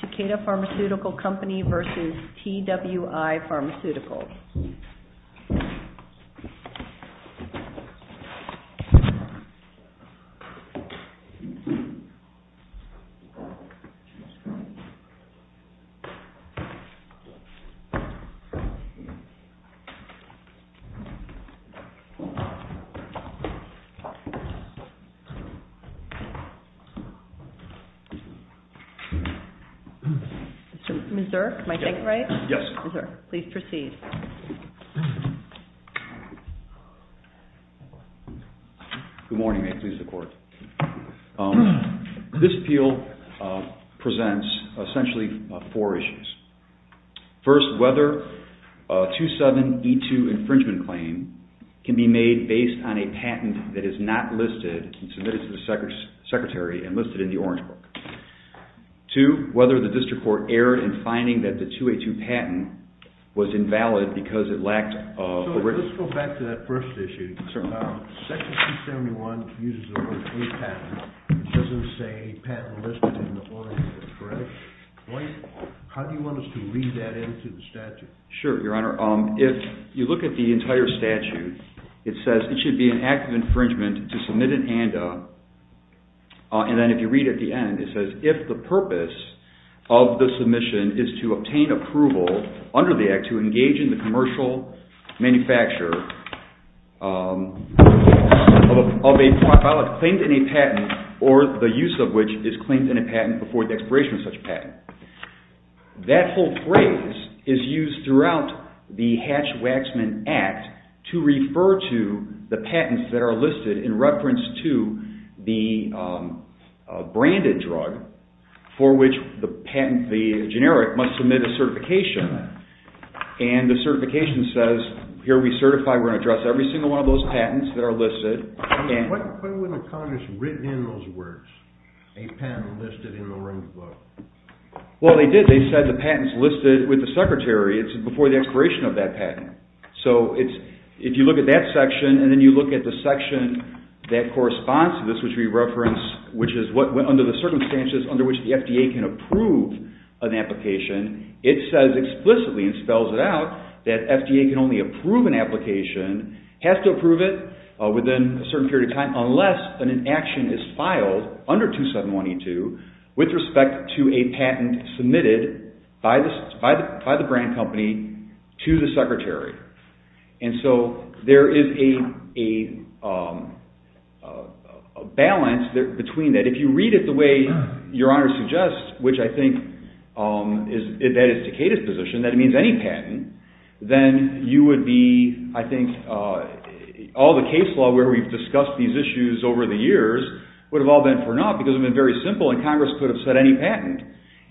Takeda Pharmaceutical Company v. Twi Pharmaceuticals. This appeal presents essentially four issues. First, whether a 27E2 infringement claim can be made based on a patent that is not listed and submitted to the Secretary and listed in the Orange Book. Two, whether the District Court erred in finding that the 282 patent was invalid because it lacked a written... So, let's go back to that first issue. Certainly. Section 271 uses the word a patent. It doesn't say patent listed in the Orange Book, correct? How do you want us to read that into the statute? Sure, Your Honor. If you look at the entire statute, it says it should be an act of infringement to submit an ANDA, and then if you read at the end, it says if the purpose of the submission is to obtain approval under the act to engage in the commercial manufacture of a product claimed in a patent or the use of which is claimed in a patent before the expiration of such a patent. That whole phrase is used throughout the Hatch-Waxman Act to refer to the patents that are listed in reference to the branded drug for which the patent, the generic, must submit a certification, and the certification says, here we certify we're going to address every single one of those patents that are listed. Why wasn't Congress written in those words, a patent listed in the Orange Book? Well, they did. They said the patent's listed with the Secretary. It's before the expiration of that patent. So, if you look at that section and then you look at the section that corresponds to this, which we referenced, which is what, under the circumstances under which the FDA can approve an application, it says explicitly and spells it out that FDA can only approve an application, has to approve it within a certain period of time unless an action is filed under 271E2 with respect to a patent submitted by the brand company to the Secretary. And so, there is a balance between that. If you read it the way Your Honor suggests, which I think that is Takeda's position, that means any patent, then you would be, I think, all the case law where we've discussed these issues over the years would have all been for naught because it would have been very simple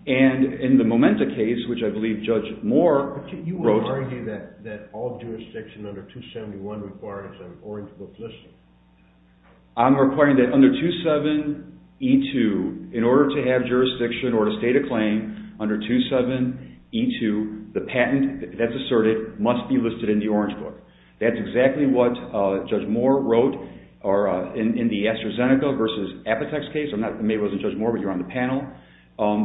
and in the Momenta case, which I believe Judge Moore wrote... You would argue that all jurisdiction under 271 requires an Orange Book listing? I'm requiring that under 27E2, in order to have jurisdiction or to state a claim under 27E2, the patent that's asserted must be listed in the Orange Book. That's exactly what Judge Moore wrote in the AstraZeneca versus Apotex case. I'm not, maybe it wasn't Judge Moore, but you're on the panel,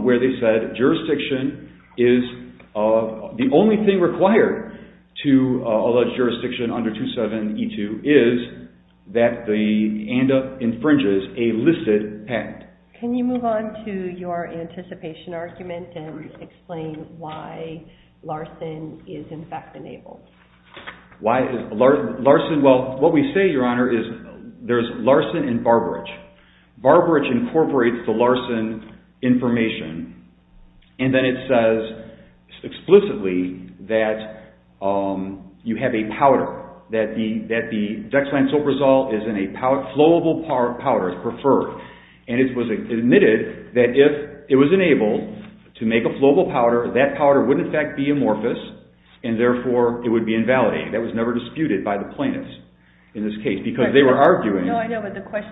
where they said jurisdiction is... The only thing required to allege jurisdiction under 27E2 is that the ANDA infringes a listed patent. Can you move on to your anticipation argument and explain why Larson is in fact enabled? Why is Larson... Well, what we say, Your Honor, is there's Larson and Barberich. Barberich incorporates the Larson information and then it says explicitly that you have a powder, that the dexlansoprazole is in a flowable powder, preferred, and it was admitted that if it was enabled to make a flowable powder, that powder would in fact be amorphous and therefore it would be invalidated. That was never disputed by the plaintiffs in this case because they were arguing... The argument that was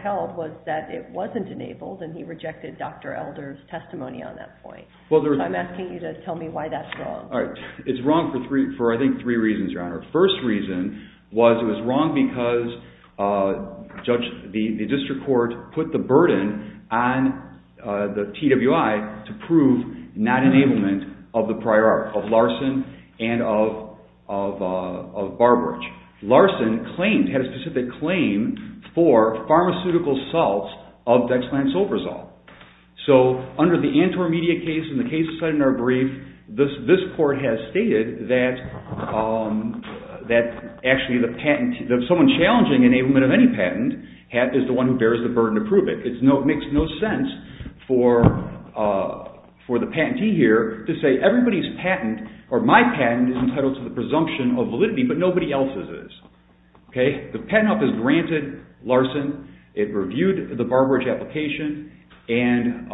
held was that it wasn't enabled and he rejected Dr. Elder's testimony on that point. I'm asking you to tell me why that's wrong. It's wrong for, I think, three reasons, Your Honor. First reason was it was wrong because the district court put the burden on the TWI to prove non-enablement of the prior art, of Larson and of Barberich. Larson claimed, had a specific claim for pharmaceutical salts of dexlansoprazole. So, under the Antwerp media case and the case cited in our brief, this court has stated that actually someone challenging enablement of any patent is the one who bears the burden to prove it. It makes no sense for the patentee here to say everybody's patent or my patent is entitled to the presumption of validity but nobody else's is. The patent office granted Larson, it reviewed the Barberich application, and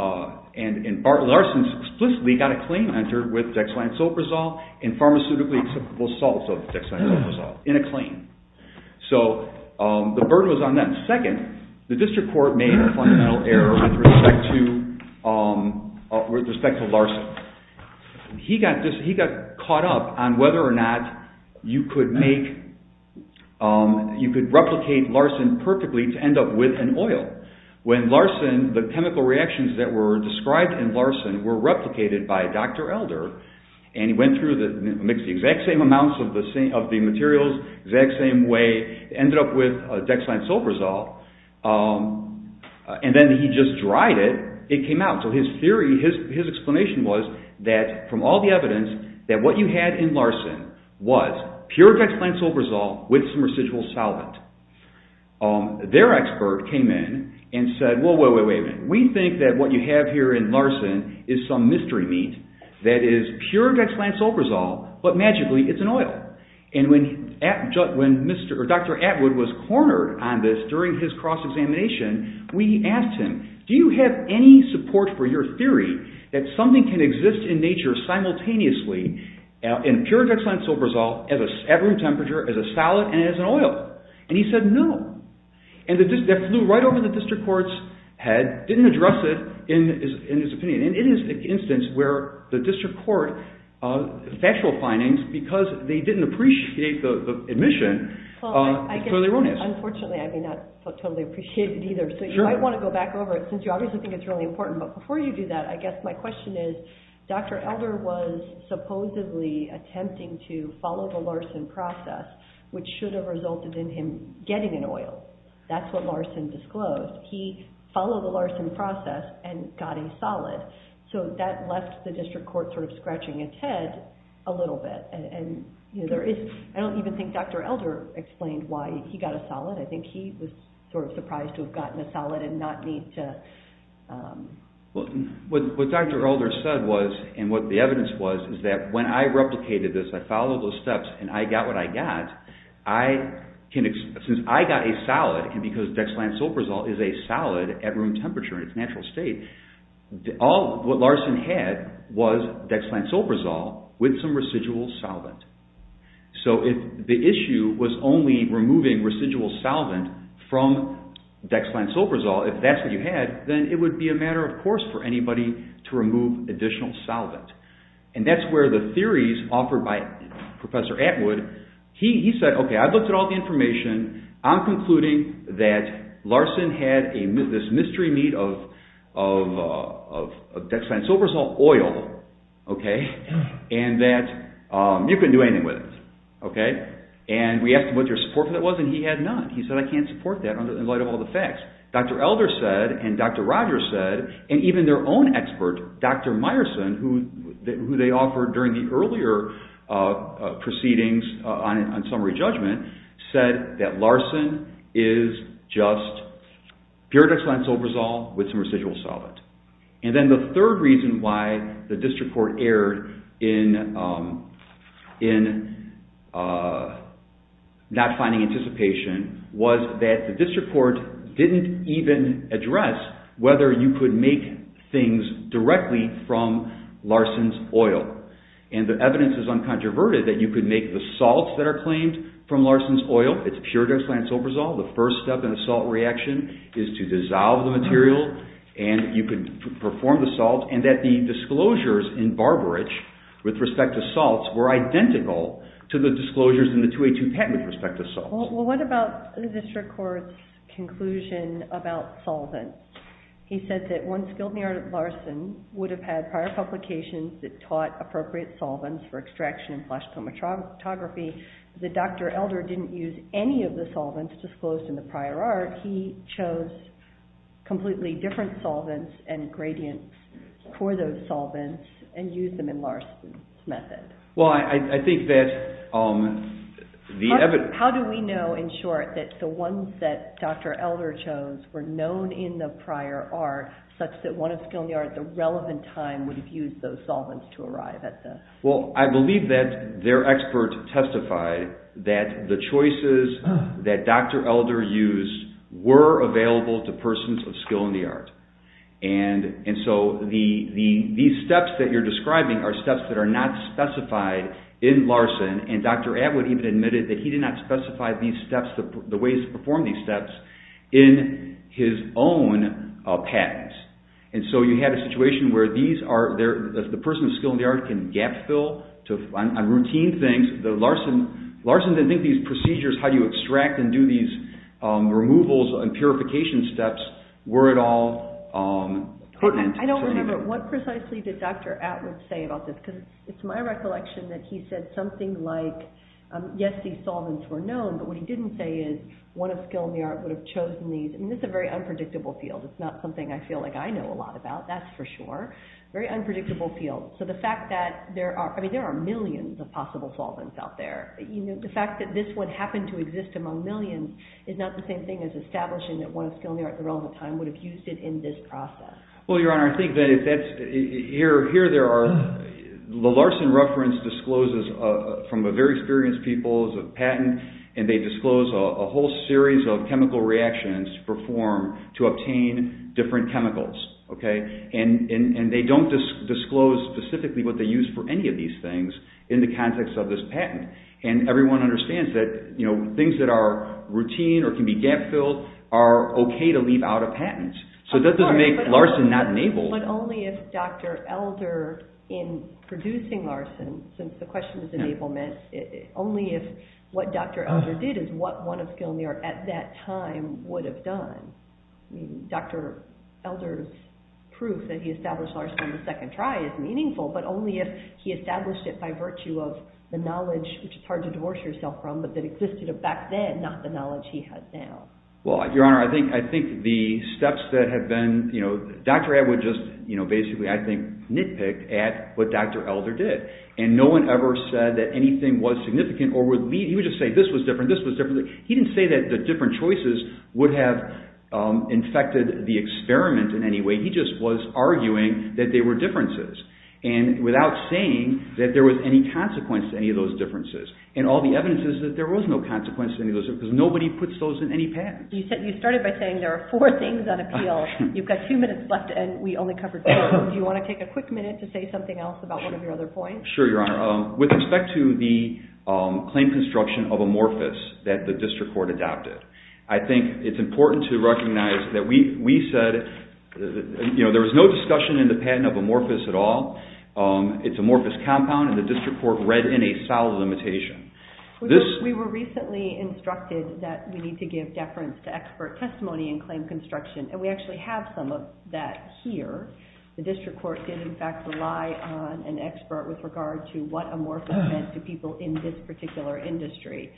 Larson explicitly got a claim entered with dexlansoprazole and pharmaceutically acceptable salts of dexlansoprazole in a claim. So the burden was on them. Second, the district court made a fundamental error with respect to Larson. He got caught up on whether or not you could replicate Larson perfectly to end up with an oil. When Larson, the chemical reactions that were described in Larson were replicated by Dr. Elder and he mixed the exact same amounts of the materials, exact same way, ended up with dexlansoprazole and then he just dried it, it came out. So his theory, his explanation was that from all the evidence that what you had in Larson was pure dexlansoprazole with some residual solvent. Their expert came in and said, wait a minute, we think that what you have here in Larson is some mystery meat that is pure dexlansoprazole but magically it's an oil. And when Dr. Atwood was cornered on this during his cross-examination, we asked him, do you have any support for your theory that something can exist in nature simultaneously in pure dexlansoprazole at room temperature as a solid and as an oil? And he said no. And that flew right over the district court's head, didn't address it in his opinion. And it is an instance where the district court, factual findings, because they didn't appreciate the admission, it's totally erroneous. Unfortunately, I may not totally appreciate it either. So you might want to go back over it since you obviously think it's really important. But before you do that, I guess my question is, Dr. Elder was supposedly attempting to follow the Larson process, which should have resulted in him getting an oil. That's what Larson disclosed. He followed the Larson process and got a solid. So that left the district court sort of scratching its head a little bit. And I don't even think Dr. Elder explained why he got a solid. I think he was sort of surprised to have gotten a solid and not need to... What Dr. Elder said was, and what the evidence was, is that when I replicated this, I followed those steps and I got what I got, since I got a solid, and because dexlansoprazole is a solid at room temperature in dexlansoprazole, I got dexlansoprazole with some residual solvent. So if the issue was only removing residual solvent from dexlansoprazole, if that's what you had, then it would be a matter of course for anybody to remove additional solvent. And that's where the theories offered by Professor Atwood, he said, okay, I've looked at all the information, I'm concluding that Larson had this mystery meat of dexlansoprazole oil, okay, and that you couldn't do anything with it. And we asked him what your support for that was and he had none. He said, I can't support that in light of all the facts. Dr. Elder said, and Dr. Rogers said, and even their own expert, Dr. Meyerson, who they offered during the earlier proceedings on summary judgment, said that Larson is just pure dexlansoprazole with some residual solvent. And then the third reason why the district court erred in not finding anticipation was that the district court didn't even address whether you could make things directly from Larson's oil. And the evidence is uncontroverted that you could make the salts that are claimed from Larson's oil, it's pure dexlansoprazole, the first step in a salt reaction is to dissolve the material and you could perform the salt and that the disclosures in Barberidge with respect to salts were identical to the disclosures in the 282 patent with respect to salts. Well, what about the district court's conclusion about solvents? He said that once Gildner and Larson would have had prior publications that taught appropriate solvents for extraction and flash chromatography, that Dr. Elder didn't use any of the solvents disclosed in the prior art, he chose completely different solvents and gradients for those solvents and used them in Larson's method. Well, I think that the evidence… How do we know in short that the ones that Dr. Elder chose were known in the prior art such that one of Skill in the Art at the relevant time would have used those solvents to arrive at the… Well, I believe that their expert testified that the choices that Dr. Elder used were available to persons of Skill in the Art. And so these steps that you're describing are steps that are not specified in Larson and Dr. Atwood even admitted that he did not specify these steps, the ways to perform these steps in his own patents. And so you have a situation where the person of Skill in the Art can gap fill on routine things. Larson didn't think these procedures, how you extract and do these removals and purification steps were at all pertinent. I don't remember what precisely did Dr. Atwood say about this because it's my recollection that he said something like, yes, these solvents were known, but what he didn't say is one of Skill in the Art would have chosen these. I mean, this is a very unpredictable field. It's not something I feel like I know a lot about, that's for sure. Very unpredictable field. So the fact that there are, I mean, there are millions of possible solvents out there. You know, the fact that this would happen to exist among millions is not the same thing as establishing that one of Skill in the Art at the relevant time would have used it in this process. Well, Your Honor, I think that if that's, here there are, the Larson reference discloses from a very experienced people's patent and they disclose a whole series of chemical reactions performed to obtain different chemicals, okay? And they don't disclose specifically what they use for any of these things in the context of this patent. And everyone understands that, you know, things that are routine or can be gap filled are okay to leave out of patents. So that doesn't make Larson not enabled. But only if Dr. Elder, in producing Larson, since the question is enablement, only if what Dr. Elder did is what one of Skill in the Art at that time would have done. Dr. Elder's proof that he established Larson on the second try is meaningful, but only if he established it by Well, Your Honor, I think the steps that have been, you know, Dr. Ed would just, you know, basically, I think, nitpick at what Dr. Elder did. And no one ever said that anything was significant or would lead, he would just say this was different, this was different. He didn't say that the different choices would have infected the experiment in any way. He just was arguing that they were differences. And without saying that there was any consequence to any of those differences. And all the evidence is that there was no consequence to any of those, because nobody puts those in any patent. You said, you started by saying there are four things on appeal. You've got two minutes left and we only covered two. Do you want to take a quick minute to say something else about one of your other points? Sure, Your Honor. With respect to the claim construction of amorphous that the district court adopted, I think it's important to recognize that we said, you know, there was no discussion in the patent of amorphous at all. It's amorphous compound and the district court read in a solid limitation. We were recently instructed that we need to give deference to expert testimony in claim construction. And we actually have some of that here. The district court did in fact rely on an expert with regard to what amorphous meant to people in this particular industry.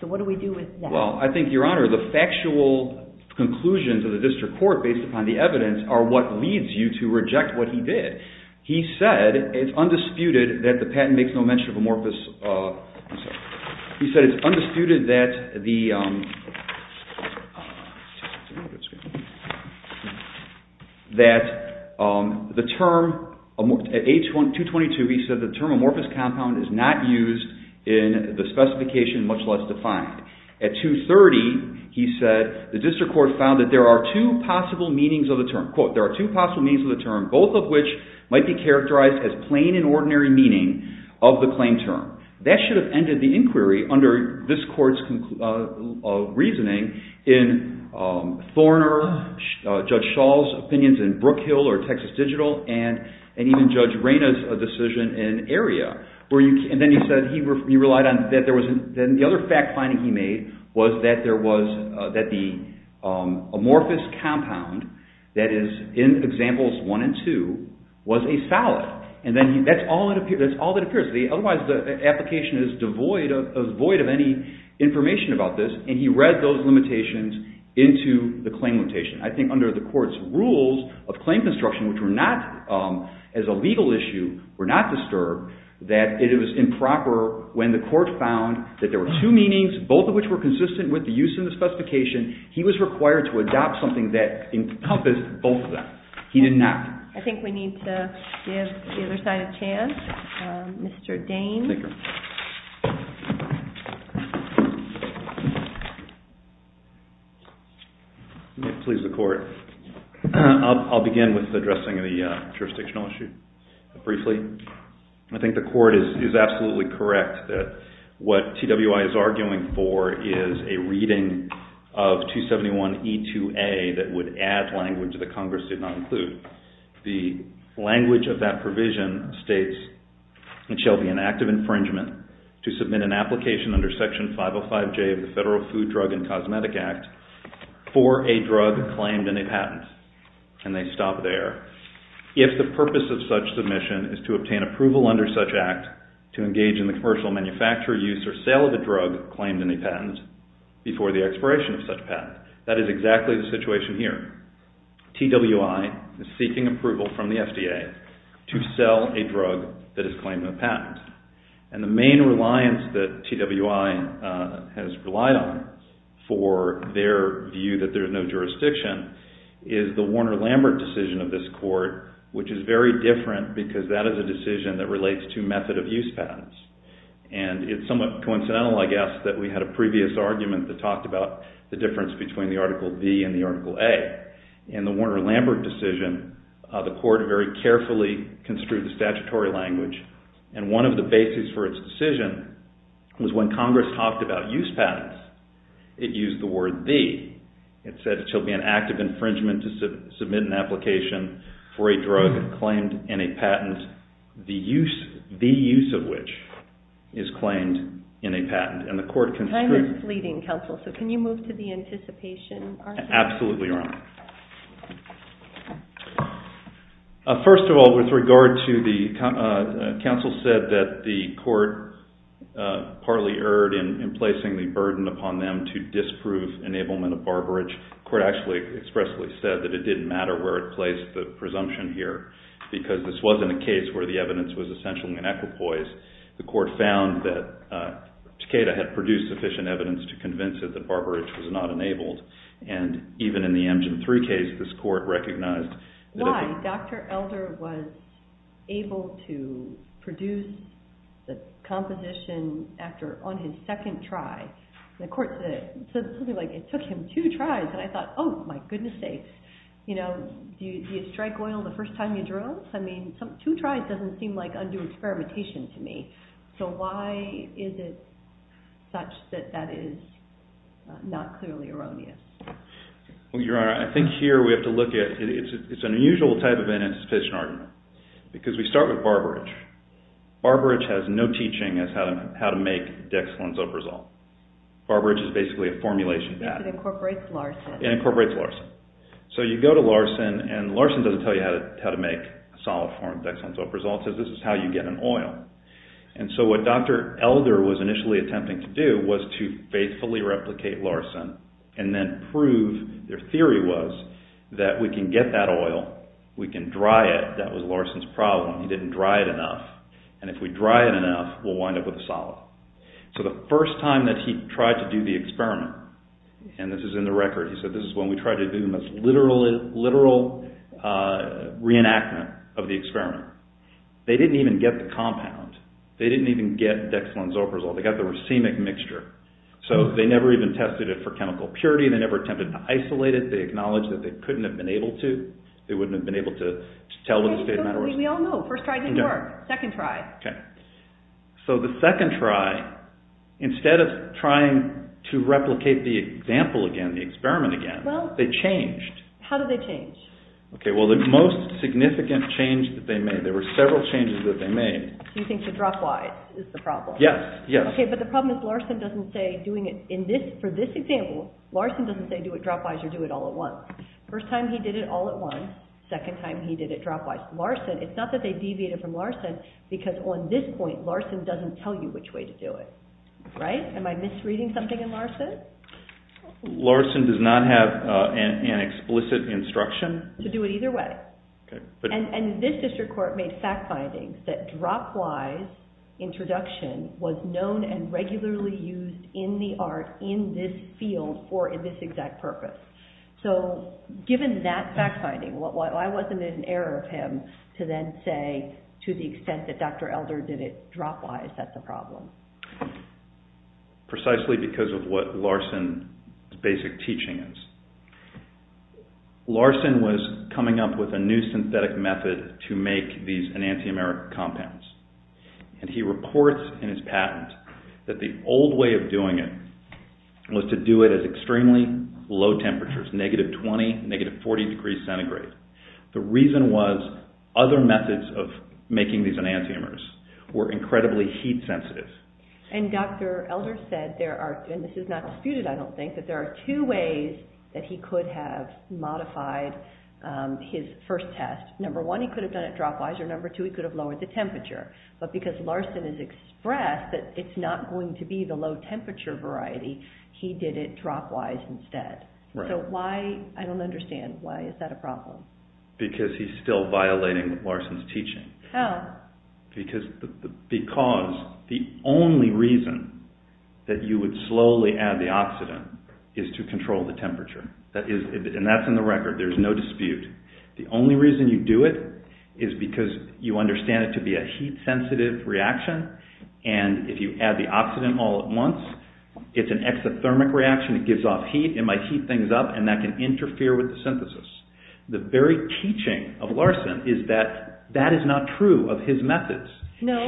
So what do we do with that? Well, I think, Your Honor, the factual conclusions of the district court based upon the evidence are what leads you to reject what he did. He said it's undisputed that the patent makes no mention of amorphous. He said it's undisputed that the term, at page 222, he said the term amorphous compound is not used in the specification, much less defined. At 230, he said the district court found that there are two possible meanings of the term. Quote, there are two possible meanings of the term, both of which might be characterized as plain and ordinary meaning of the claim term. That should have ended the inquiry under this court's reasoning in Thorner, Judge Schall's opinions in Brookhill or Texas Digital, and even Judge Reyna's decision in area. And then he said he relied on, the other fact finding he made was that the amorphous compound that is in examples one and two was a solid. That's all that appears. Otherwise, the application is devoid of any information about this, and he read those were not disturbed, that it was improper when the court found that there were two meanings, both of which were consistent with the use in the specification. He was required to adopt something that encompassed both of them. He did not. I think we need to give the other side a chance. Mr. Dane. Let me please the court. I'll begin with addressing the jurisdictional issue briefly. I think the court is absolutely correct that what TWI is arguing for is a reading of 271E2A that would add language that Congress did not include. The language of that provision states, it shall be an act of infringement to submit an application under Section 505J of the Federal Food, Drug, and Cosmetic Act for a drug claimed in a patent. And they stop there. If the purpose of such submission is to obtain approval under such act to engage in the commercial manufacturer use or sale of a drug claimed in a patent before the expiration of such patent. That is exactly the situation here. TWI is seeking approval from the FDA to sell a drug that is claimed in a patent. And the main reliance that TWI has relied on for their view that there is no jurisdiction is the Warner-Lambert decision of this court, which is very different because that is a decision that relates to method of use patents. And it's somewhat coincidental, I guess, that we had a previous argument that talked about the difference between the Article B and the Article A. In the Warner-Lambert decision, the court very carefully construed the statutory language. And one of the basis for its decision was when Congress talked about use patents. It used the word the. It said it shall be an act of infringement to submit an application for a drug claimed in a patent, the use of which is claimed in a patent. Time is fleeting, counsel, so can you move to the anticipation argument? Absolutely, Your Honor. First of all, with regard to the counsel said that the court partly erred in placing the burden upon them to disprove enablement of barbarage. The court actually expressly said that it didn't matter where it placed the presumption here because this wasn't a case where the evidence was essentially an equipoise. The court found that Takeda had produced sufficient evidence to convince it that barbarage was not enabled. And even in the Amgen III case, this court recognized… Why? Dr. Elder was able to produce the composition on his first time you drove? I mean, two tries doesn't seem like undue experimentation to me. So why is it such that that is not clearly erroneous? Well, Your Honor, I think here we have to look at… It's an unusual type of anticipation argument because we start with barbarage. Barbarage has no teaching as how to make dexamethasone resolve. Barbarage is basically a solid form of dexamethasone resolve. So this is how you get an oil. And so what Dr. Elder was initially attempting to do was to faithfully replicate Larson and then prove their theory was that we can get that oil, we can dry it. That was Larson's problem. He didn't dry it enough. And if we dry it enough, we'll wind up with a reenactment of the experiment. They didn't even get the compound. They didn't even get dexamethasone resolve. They got the racemic mixture. So they never even tested it for chemical purity. They never attempted to isolate it. They acknowledged that they couldn't have been able to. They wouldn't have been able to tell if the state of matter was… We all know. First try didn't work. Second try. So the second try, instead of trying to replicate the example again, the experiment again, they changed. How did they change? Well, the most significant change that they made, there were several changes that they made… Do you think the drop-wise is the problem? Yes. But the problem is Larson doesn't say, for this example, Larson doesn't say do it drop-wise or do it all at once. First time he did it all at once. Second time he did it drop-wise. Larson, it's not that they deviated from Larson, because on this point, Larson doesn't tell you which way to do it. Right? Am I misreading something in Larson? Larson does not have an explicit instruction? To do it either way. And this district court made fact findings that drop-wise introduction was known and regularly used in the art, in this field, or in this exact purpose. So, given that fact finding, why wasn't it an error of him to then say, to the extent that Dr. Elder did it drop-wise, that's a problem? Precisely because of what Larson's basic teaching is. Larson was coming up with a new synthetic method to make these enantiomeric compounds. And he reports in his patent that the old way of doing it was to do it at extremely low temperatures, negative 20, negative 40 degrees centigrade. The reason was other methods of making these enantiomers were incredibly heat sensitive. And Dr. Elder said, and this is not disputed, I don't think, that there are two ways that he could have modified his first test. Number one, he could have done it drop-wise, or number two, he could have lowered the temperature. But because Larson has expressed that it's not going to be the low temperature variety, he did it drop-wise instead. So why, I don't understand, why is that a problem? Because he's still violating Larson's teaching. How? Because the only reason that you would slowly add the oxidant is to control the temperature. And that's in the record, there's no dispute. The only reason you do it is because you understand it to be a heat sensitive reaction, and if you add the oxidant all at once, it's an exothermic reaction, it gives off heat, it might heat things up and that can interfere with the synthesis. The very teaching of Larson is that that is not true of his methods. No,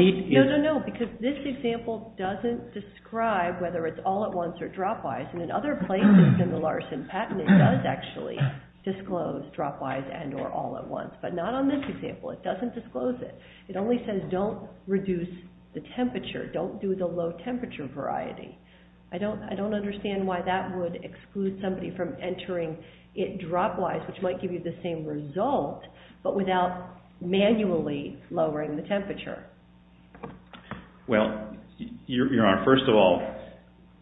because this example doesn't describe whether it's all at once or drop-wise, and in other places in the Larson patent it does actually disclose drop-wise and or all at once, but not on this example, it doesn't disclose it. It only says don't reduce the temperature, don't do the low temperature variety. I don't understand why that would exclude somebody from entering it drop-wise, which might give you the same result, but without manually lowering the temperature. Well, Your Honor, first of all,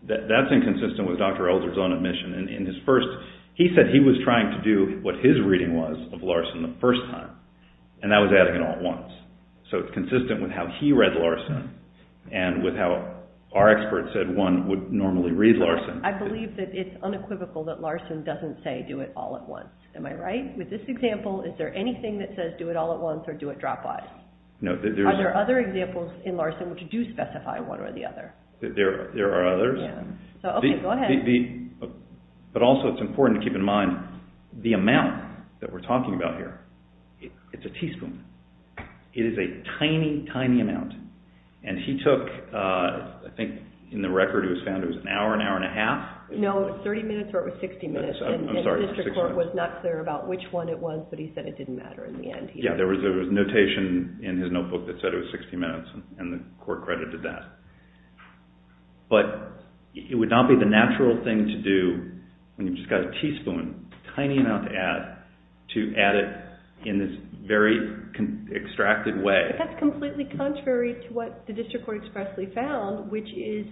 that's inconsistent with Dr. Elder's own admission. He said he was trying to do what his reading was of Larson the first time, and that was adding it all at once. So it's consistent with how he read Larson and with how our experts said one would normally read Larson. I believe that it's unequivocal that Larson doesn't say do it all at once. Am I right? With this example, is there anything that says do it all at once or do it drop-wise? Are there other examples in Larson which do specify one or the other? There are others, but also it's important to keep in mind the amount that we're talking about here. It's a teaspoon. It is a tiny, tiny amount, and he took, I think in the record it was found it was an hour, an hour and a half. No, it was 30 minutes or it was 60 minutes. I'm sorry, 60 minutes. And the district court was not clear about which one it was, but he said it didn't matter in the end. Yeah, there was a notation in his notebook that said it was 60 minutes, and the court credited that. But it would not be the natural thing to do when you've just got a teaspoon, a tiny amount to add, to add it in this very extracted way. But that's completely contrary to what the district court expressly found, which is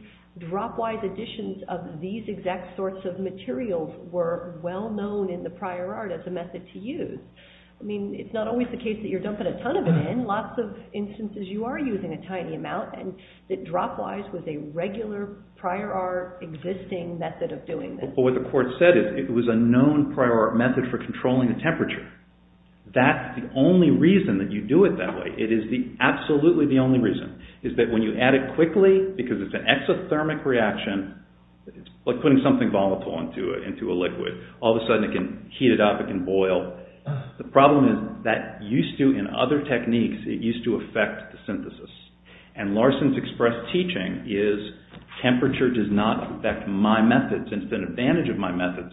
drop-wise additions of these exact sorts of materials were well-known in the prior art as a method to use. I mean, it's not always the case that you're dumping a ton of it in. Lots of instances you are using a tiny amount, and that drop-wise was a regular prior art existing method of doing this. But what the court said is it was a known prior art method for controlling the temperature. That's the only reason that you do it that way. It is absolutely the only reason, is that when you add it quickly, because it's an exothermic reaction, like putting something volatile into a liquid, all of a sudden it can heat it up, it can boil. The problem is that used to, in other techniques, it used to affect the synthesis. And Larson's express teaching is temperature does not affect my methods. It's an advantage of my methods.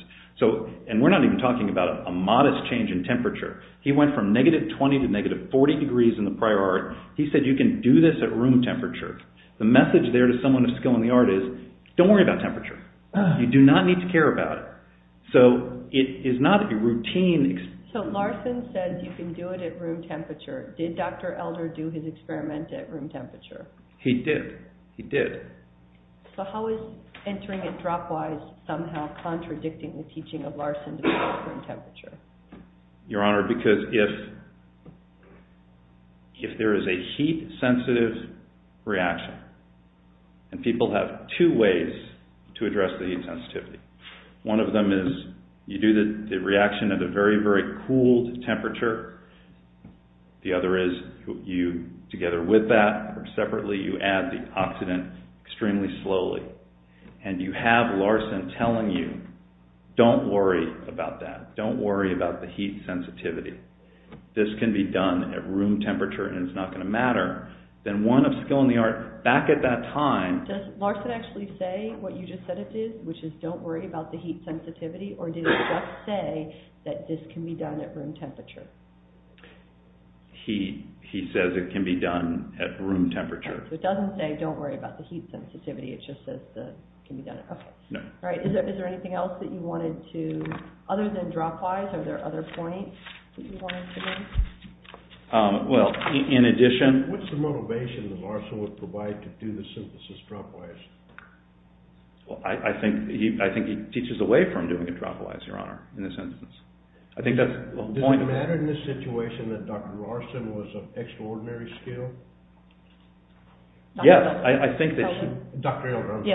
And we're not even talking about a modest change in temperature. He went from negative 20 to negative 40 degrees in the prior art. He said you can do this at room temperature. The message there to someone of skill in the art is don't worry about temperature. You do not need to care about it. So it is not a routine... So Larson said you can do it at room temperature. Did Dr. Elder do his experiment at room temperature? He did. He did. So how is entering it drop-wise somehow contradicting the teaching of Larson to do it at room temperature? Your Honor, because if there is a heat-sensitive reaction, and people have two ways to address the heat sensitivity. One of them is you do the reaction at a very, very cooled temperature. The other is you, together with that, or separately, you add the oxidant extremely slowly. And you have Larson telling you, don't worry about that. Don't worry about the heat sensitivity. This can be done at room temperature and it's not going to matter. Then one of skill in the art, back at that time... Does Larson actually say what you just said it is, which is don't worry about the heat sensitivity, or did he just say that this can be done at room temperature? He says it can be done at room temperature. So it doesn't say don't worry about the heat sensitivity. It just says it can be done at room temperature. No. Is there anything else that you wanted to... other than drop-wise, are there other points that you wanted to make? Well, in addition... What's the motivation that Larson would provide to do the synthesis drop-wise? I think he teaches away from doing it drop-wise, Your Honor, in this instance. Does it matter in this situation that Dr. Larson was of extraordinary skill? Yes, I think that... Dr. Elder, I'm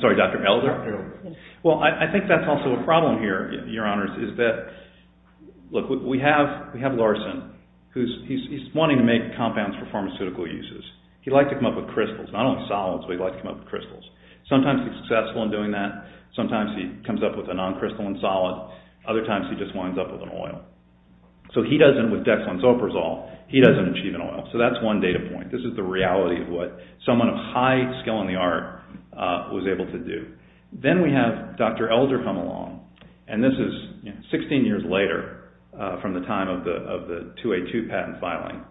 sorry. Dr. Elder. Well, I think that's also a problem here, Your Honors, is that... Look, we have Larson, who's wanting to make compounds for pharmaceutical uses. He'd like to come up with crystals, not only solids, but he'd like to come up with crystals. Sometimes he's successful in doing that. Sometimes he comes up with a non-crystalline solid. Other times he just winds up with an oil. So he doesn't, with dexamethasone, he doesn't achieve an oil. So that's one data point. This is the reality of what someone of high skill in the art was able to do. Then we have Dr. Elder come along. And this is 16 years later from the time of the 2A2 patent filing.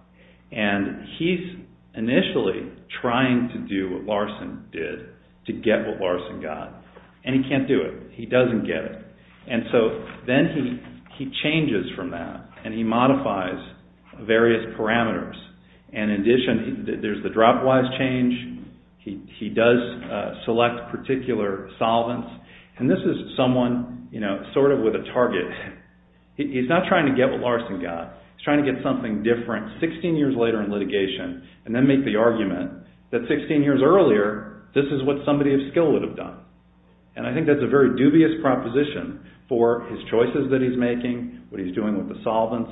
And he's initially trying to do what Larson did to get what Larson got. And he can't do it. He doesn't get it. And so then he changes from that and he modifies various parameters. In addition, there's the drop-wise change. He does select particular solvents. And this is someone sort of with a target. He's not trying to get what Larson got. He's trying to get something different 16 years later in litigation and then make the argument that 16 years earlier, this is what somebody of skill would have done. And I think that's a very dubious proposition for his choices that he's making, what he's doing with the solvents.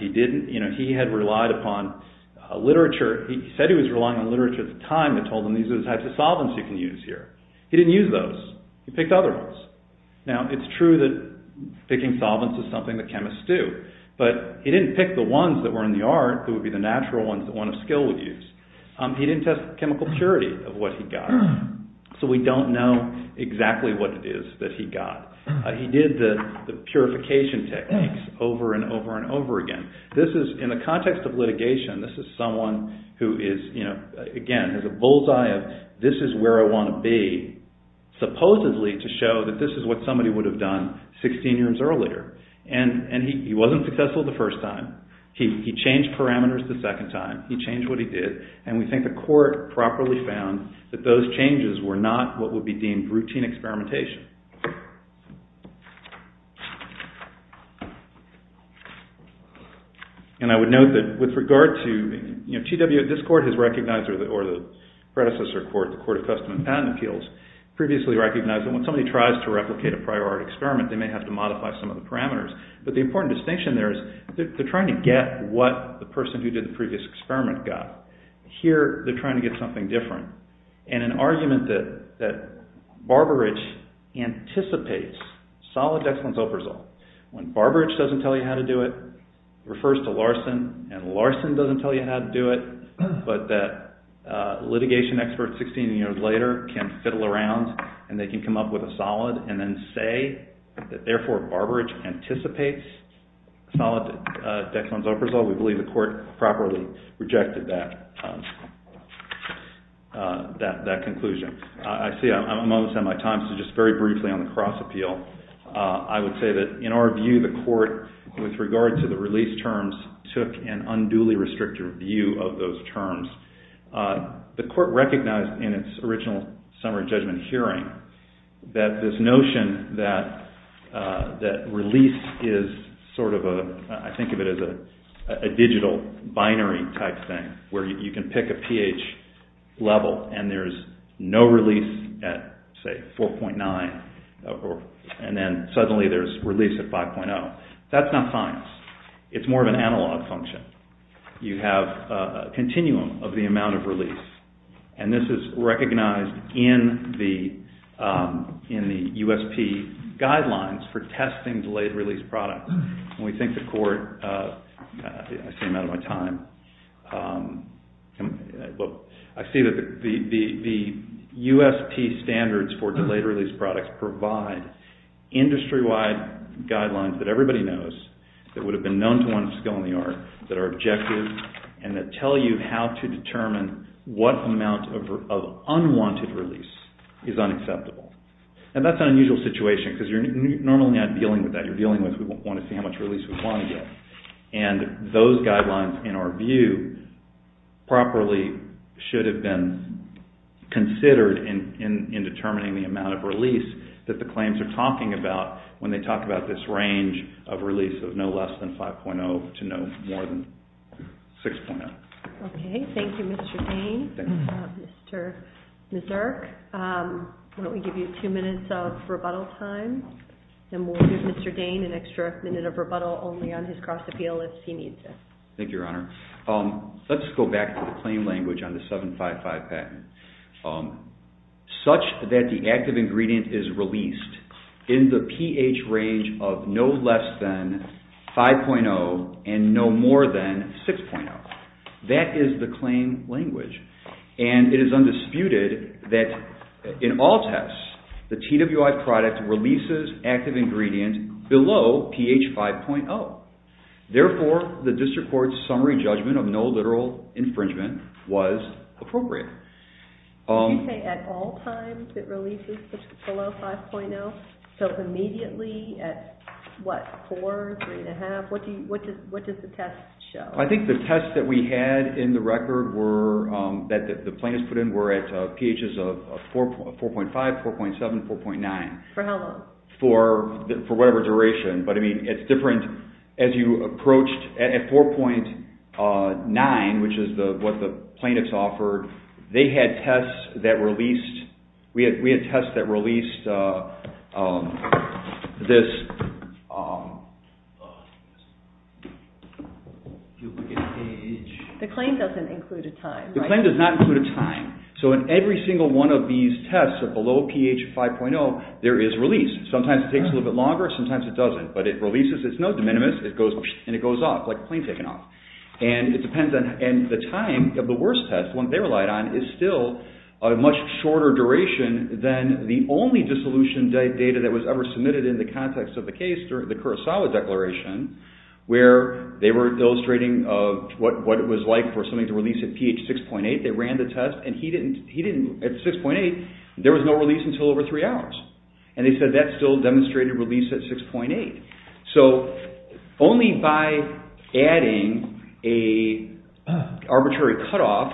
He had relied upon literature. He said he was relying on literature at the time that told him these are the types of solvents you can use here. He didn't use those. He picked other ones. Now, it's true that picking solvents is something that chemists do. But he didn't pick the ones that were in the art that would be the natural ones that one of skill would use. He didn't test chemical purity of what he got. So we don't know exactly what it is that he got. He did the purification techniques over and over and over again. This is, in the context of litigation, this is someone who is, again, has a bull's eye of this is where I want to be, supposedly to show that this is what somebody would have done 16 years earlier. And he wasn't successful the first time. He changed parameters the second time. He changed what he did. And we think the court properly found that those changes were not what would be deemed routine experimentation. And I would note that with regard to GW, this court has recognized or the predecessor court, the Court of Custom and Patent Appeals, previously recognized that when somebody tries to replicate a prior art experiment, they may have to modify some of the parameters. But the important distinction there is they're trying to get what the person who did the previous experiment got. Here, they're trying to get something different. And an argument that Barberidge anticipates solid dexamethasol. When Barberidge doesn't tell you how to do it, it refers to Larson, and Larson doesn't tell you how to do it, but that litigation experts 16 years later can fiddle around and they can come up with a solid and then say that, therefore, Barberidge anticipates solid dexamethasol. We believe the court properly rejected that conclusion. I'm almost out of my time, so just very briefly on the cross appeal. I would say that in our view, the court, with regard to the release terms, took an unduly restrictive view of those terms. The court recognized in its original summary judgment hearing that this notion that release is sort of a, I think of it as a digital binary type thing where you can pick a pH level and there's no release at, say, 4.9, and then suddenly there's release at 5.0. That's not science. It's more of an analog function. You have a continuum of the amount of release, and this is recognized in the USP guidelines for testing delayed release products. We think the court, I seem out of my time, I see that the USP standards for delayed release products provide industry-wide guidelines that everybody knows that would have been known to one's skill in the art that are objective and that tell you how to determine what amount of unwanted release is unacceptable. And that's an unusual situation because you're normally not dealing with that. When you're dealing with it, we want to see how much release we want to get. And those guidelines, in our view, properly should have been considered in determining the amount of release that the claims are talking about when they talk about this range of release of no less than 5.0 to no more than 6.0. Okay. Thank you, Mr. Dain. Mr. Misurk, why don't we give you two minutes of rebuttal time and we'll give Mr. Dain an extra minute of rebuttal only on his cross-appeal if he needs it. Thank you, Your Honor. Let's go back to the claim language on the 755 patent. Such that the active ingredient is released in the pH range of no less than 5.0 and no more than 6.0. That is the claim language. And it is undisputed that in all tests, the TWI product releases active ingredient below pH 5.0. Therefore, the District Court's summary judgment of no literal infringement was appropriate. Did you say at all times it releases below 5.0? So immediately at what, 4, 3.5? What does the test show? I think the test that we had in the record that the plaintiffs put in were at pHs of 4.5, 4.7, 4.9. For how long? For whatever duration. But, I mean, it's different as you approached at 4.9, which is what the plaintiffs offered, they had tests that released, we had tests that released this... The claim doesn't include a time, right? The claim does not include a time. So in every single one of these tests that are below pH 5.0, there is release. Sometimes it takes a little bit longer, sometimes it doesn't. But it releases, it's not de minimis, and it goes off like a plane taking off. And the time of the worst test, the one they relied on, is still a much shorter duration than the only dissolution data that was ever submitted in the context of the case during the Kurosawa Declaration, where they were illustrating what it was like for something to release at pH 6.8. They ran the test, and at 6.8, there was no release until over three hours. And they said that still demonstrated release at 6.8. So only by adding an arbitrary cutoff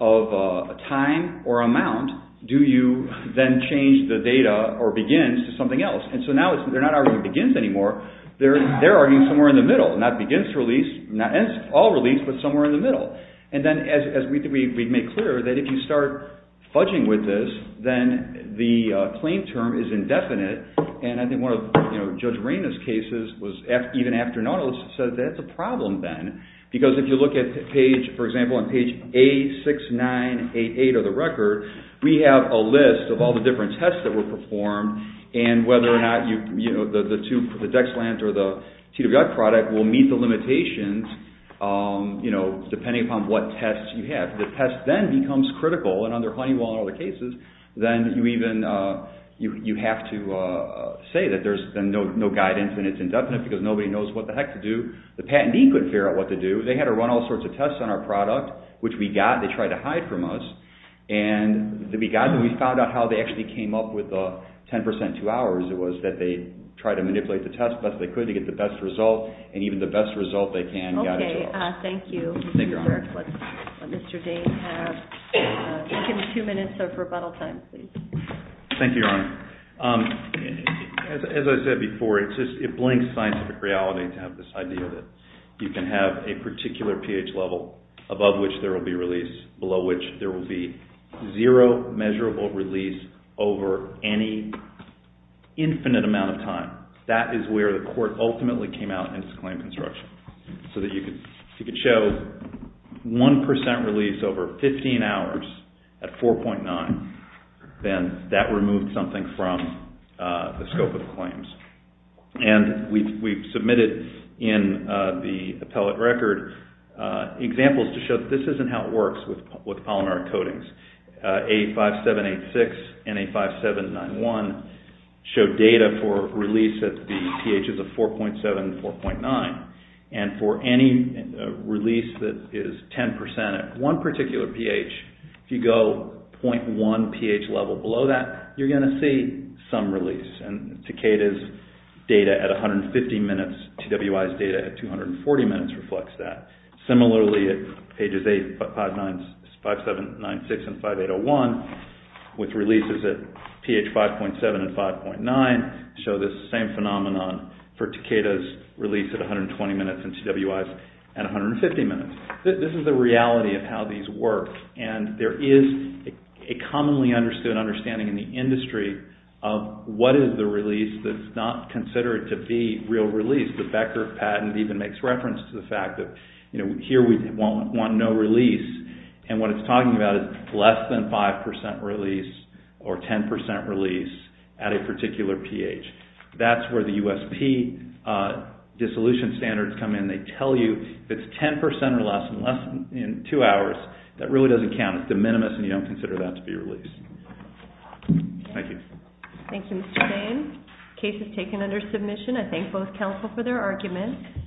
of time or amount do you then change the data, or begins, to something else. And so now they're not arguing begins anymore, they're arguing somewhere in the middle. Not begins to release, not all release, but somewhere in the middle. And then, as we've made clear, that if you start fudging with this, then the claim term is indefinite. And I think one of Judge Marina's cases, even after Nautilus, said that's a problem then. Because if you look at page, for example, on page A6988 of the record, we have a list of all the different tests that were performed, and whether or not the Dexland or the TWI product will meet the limitations, depending upon what tests you have. If the test then becomes critical, and under Honeywell and other cases, then you have to say that there's no guidance and it's indefinite because nobody knows what the heck to do. The patentee couldn't figure out what to do. They had to run all sorts of tests on our product, which we got, and they tried to hide from us. And we found out how they actually came up with 10% two hours. It was that they tried to manipulate the test as best they could to get the best result, and even the best result they can got it to us. Okay, thank you. Mr. Dane, you have two minutes of rebuttal time, please. Thank you, Your Honor. As I said before, it blinks scientific reality to have this idea that you can have a particular pH level above which there will be release, below which there will be zero measurable release over any infinite amount of time. That is where the court ultimately came out in this claim construction, so that you could show 1% release over 15 hours at 4.9, then that removed something from the scope of the claims. And we've submitted in the appellate record examples to show that this isn't how it works with polymeric coatings. A5786 and A5791 show data for release at the pHs of 4.7 and 4.9, and for any release that is 10% at one particular pH, if you go 0.1 pH level below that, you're going to see some release. And Takeda's data at 150 minutes, TWI's data at 240 minutes reflects that. Similarly, at pages 8, 5, 7, 9, 6, and 5, 8, 0, 1, with releases at pH 5.7 and 5.9, show this same phenomenon for Takeda's release at 120 minutes and TWI's at 150 minutes. This is the reality of how these work, and there is a commonly understood understanding in the industry of what is the release that's not considered to be real release. The Becker patent even makes reference to the fact that here we want no release, and what it's talking about is less than 5% release or 10% release at a particular pH. That's where the USP dissolution standards come in. They tell you if it's 10% or less in two hours, that really doesn't count. It's de minimis, and you don't consider that to be release. Thank you. Thank you, Mr. Bain. Case is taken under submission. I thank both counsel for their arguments.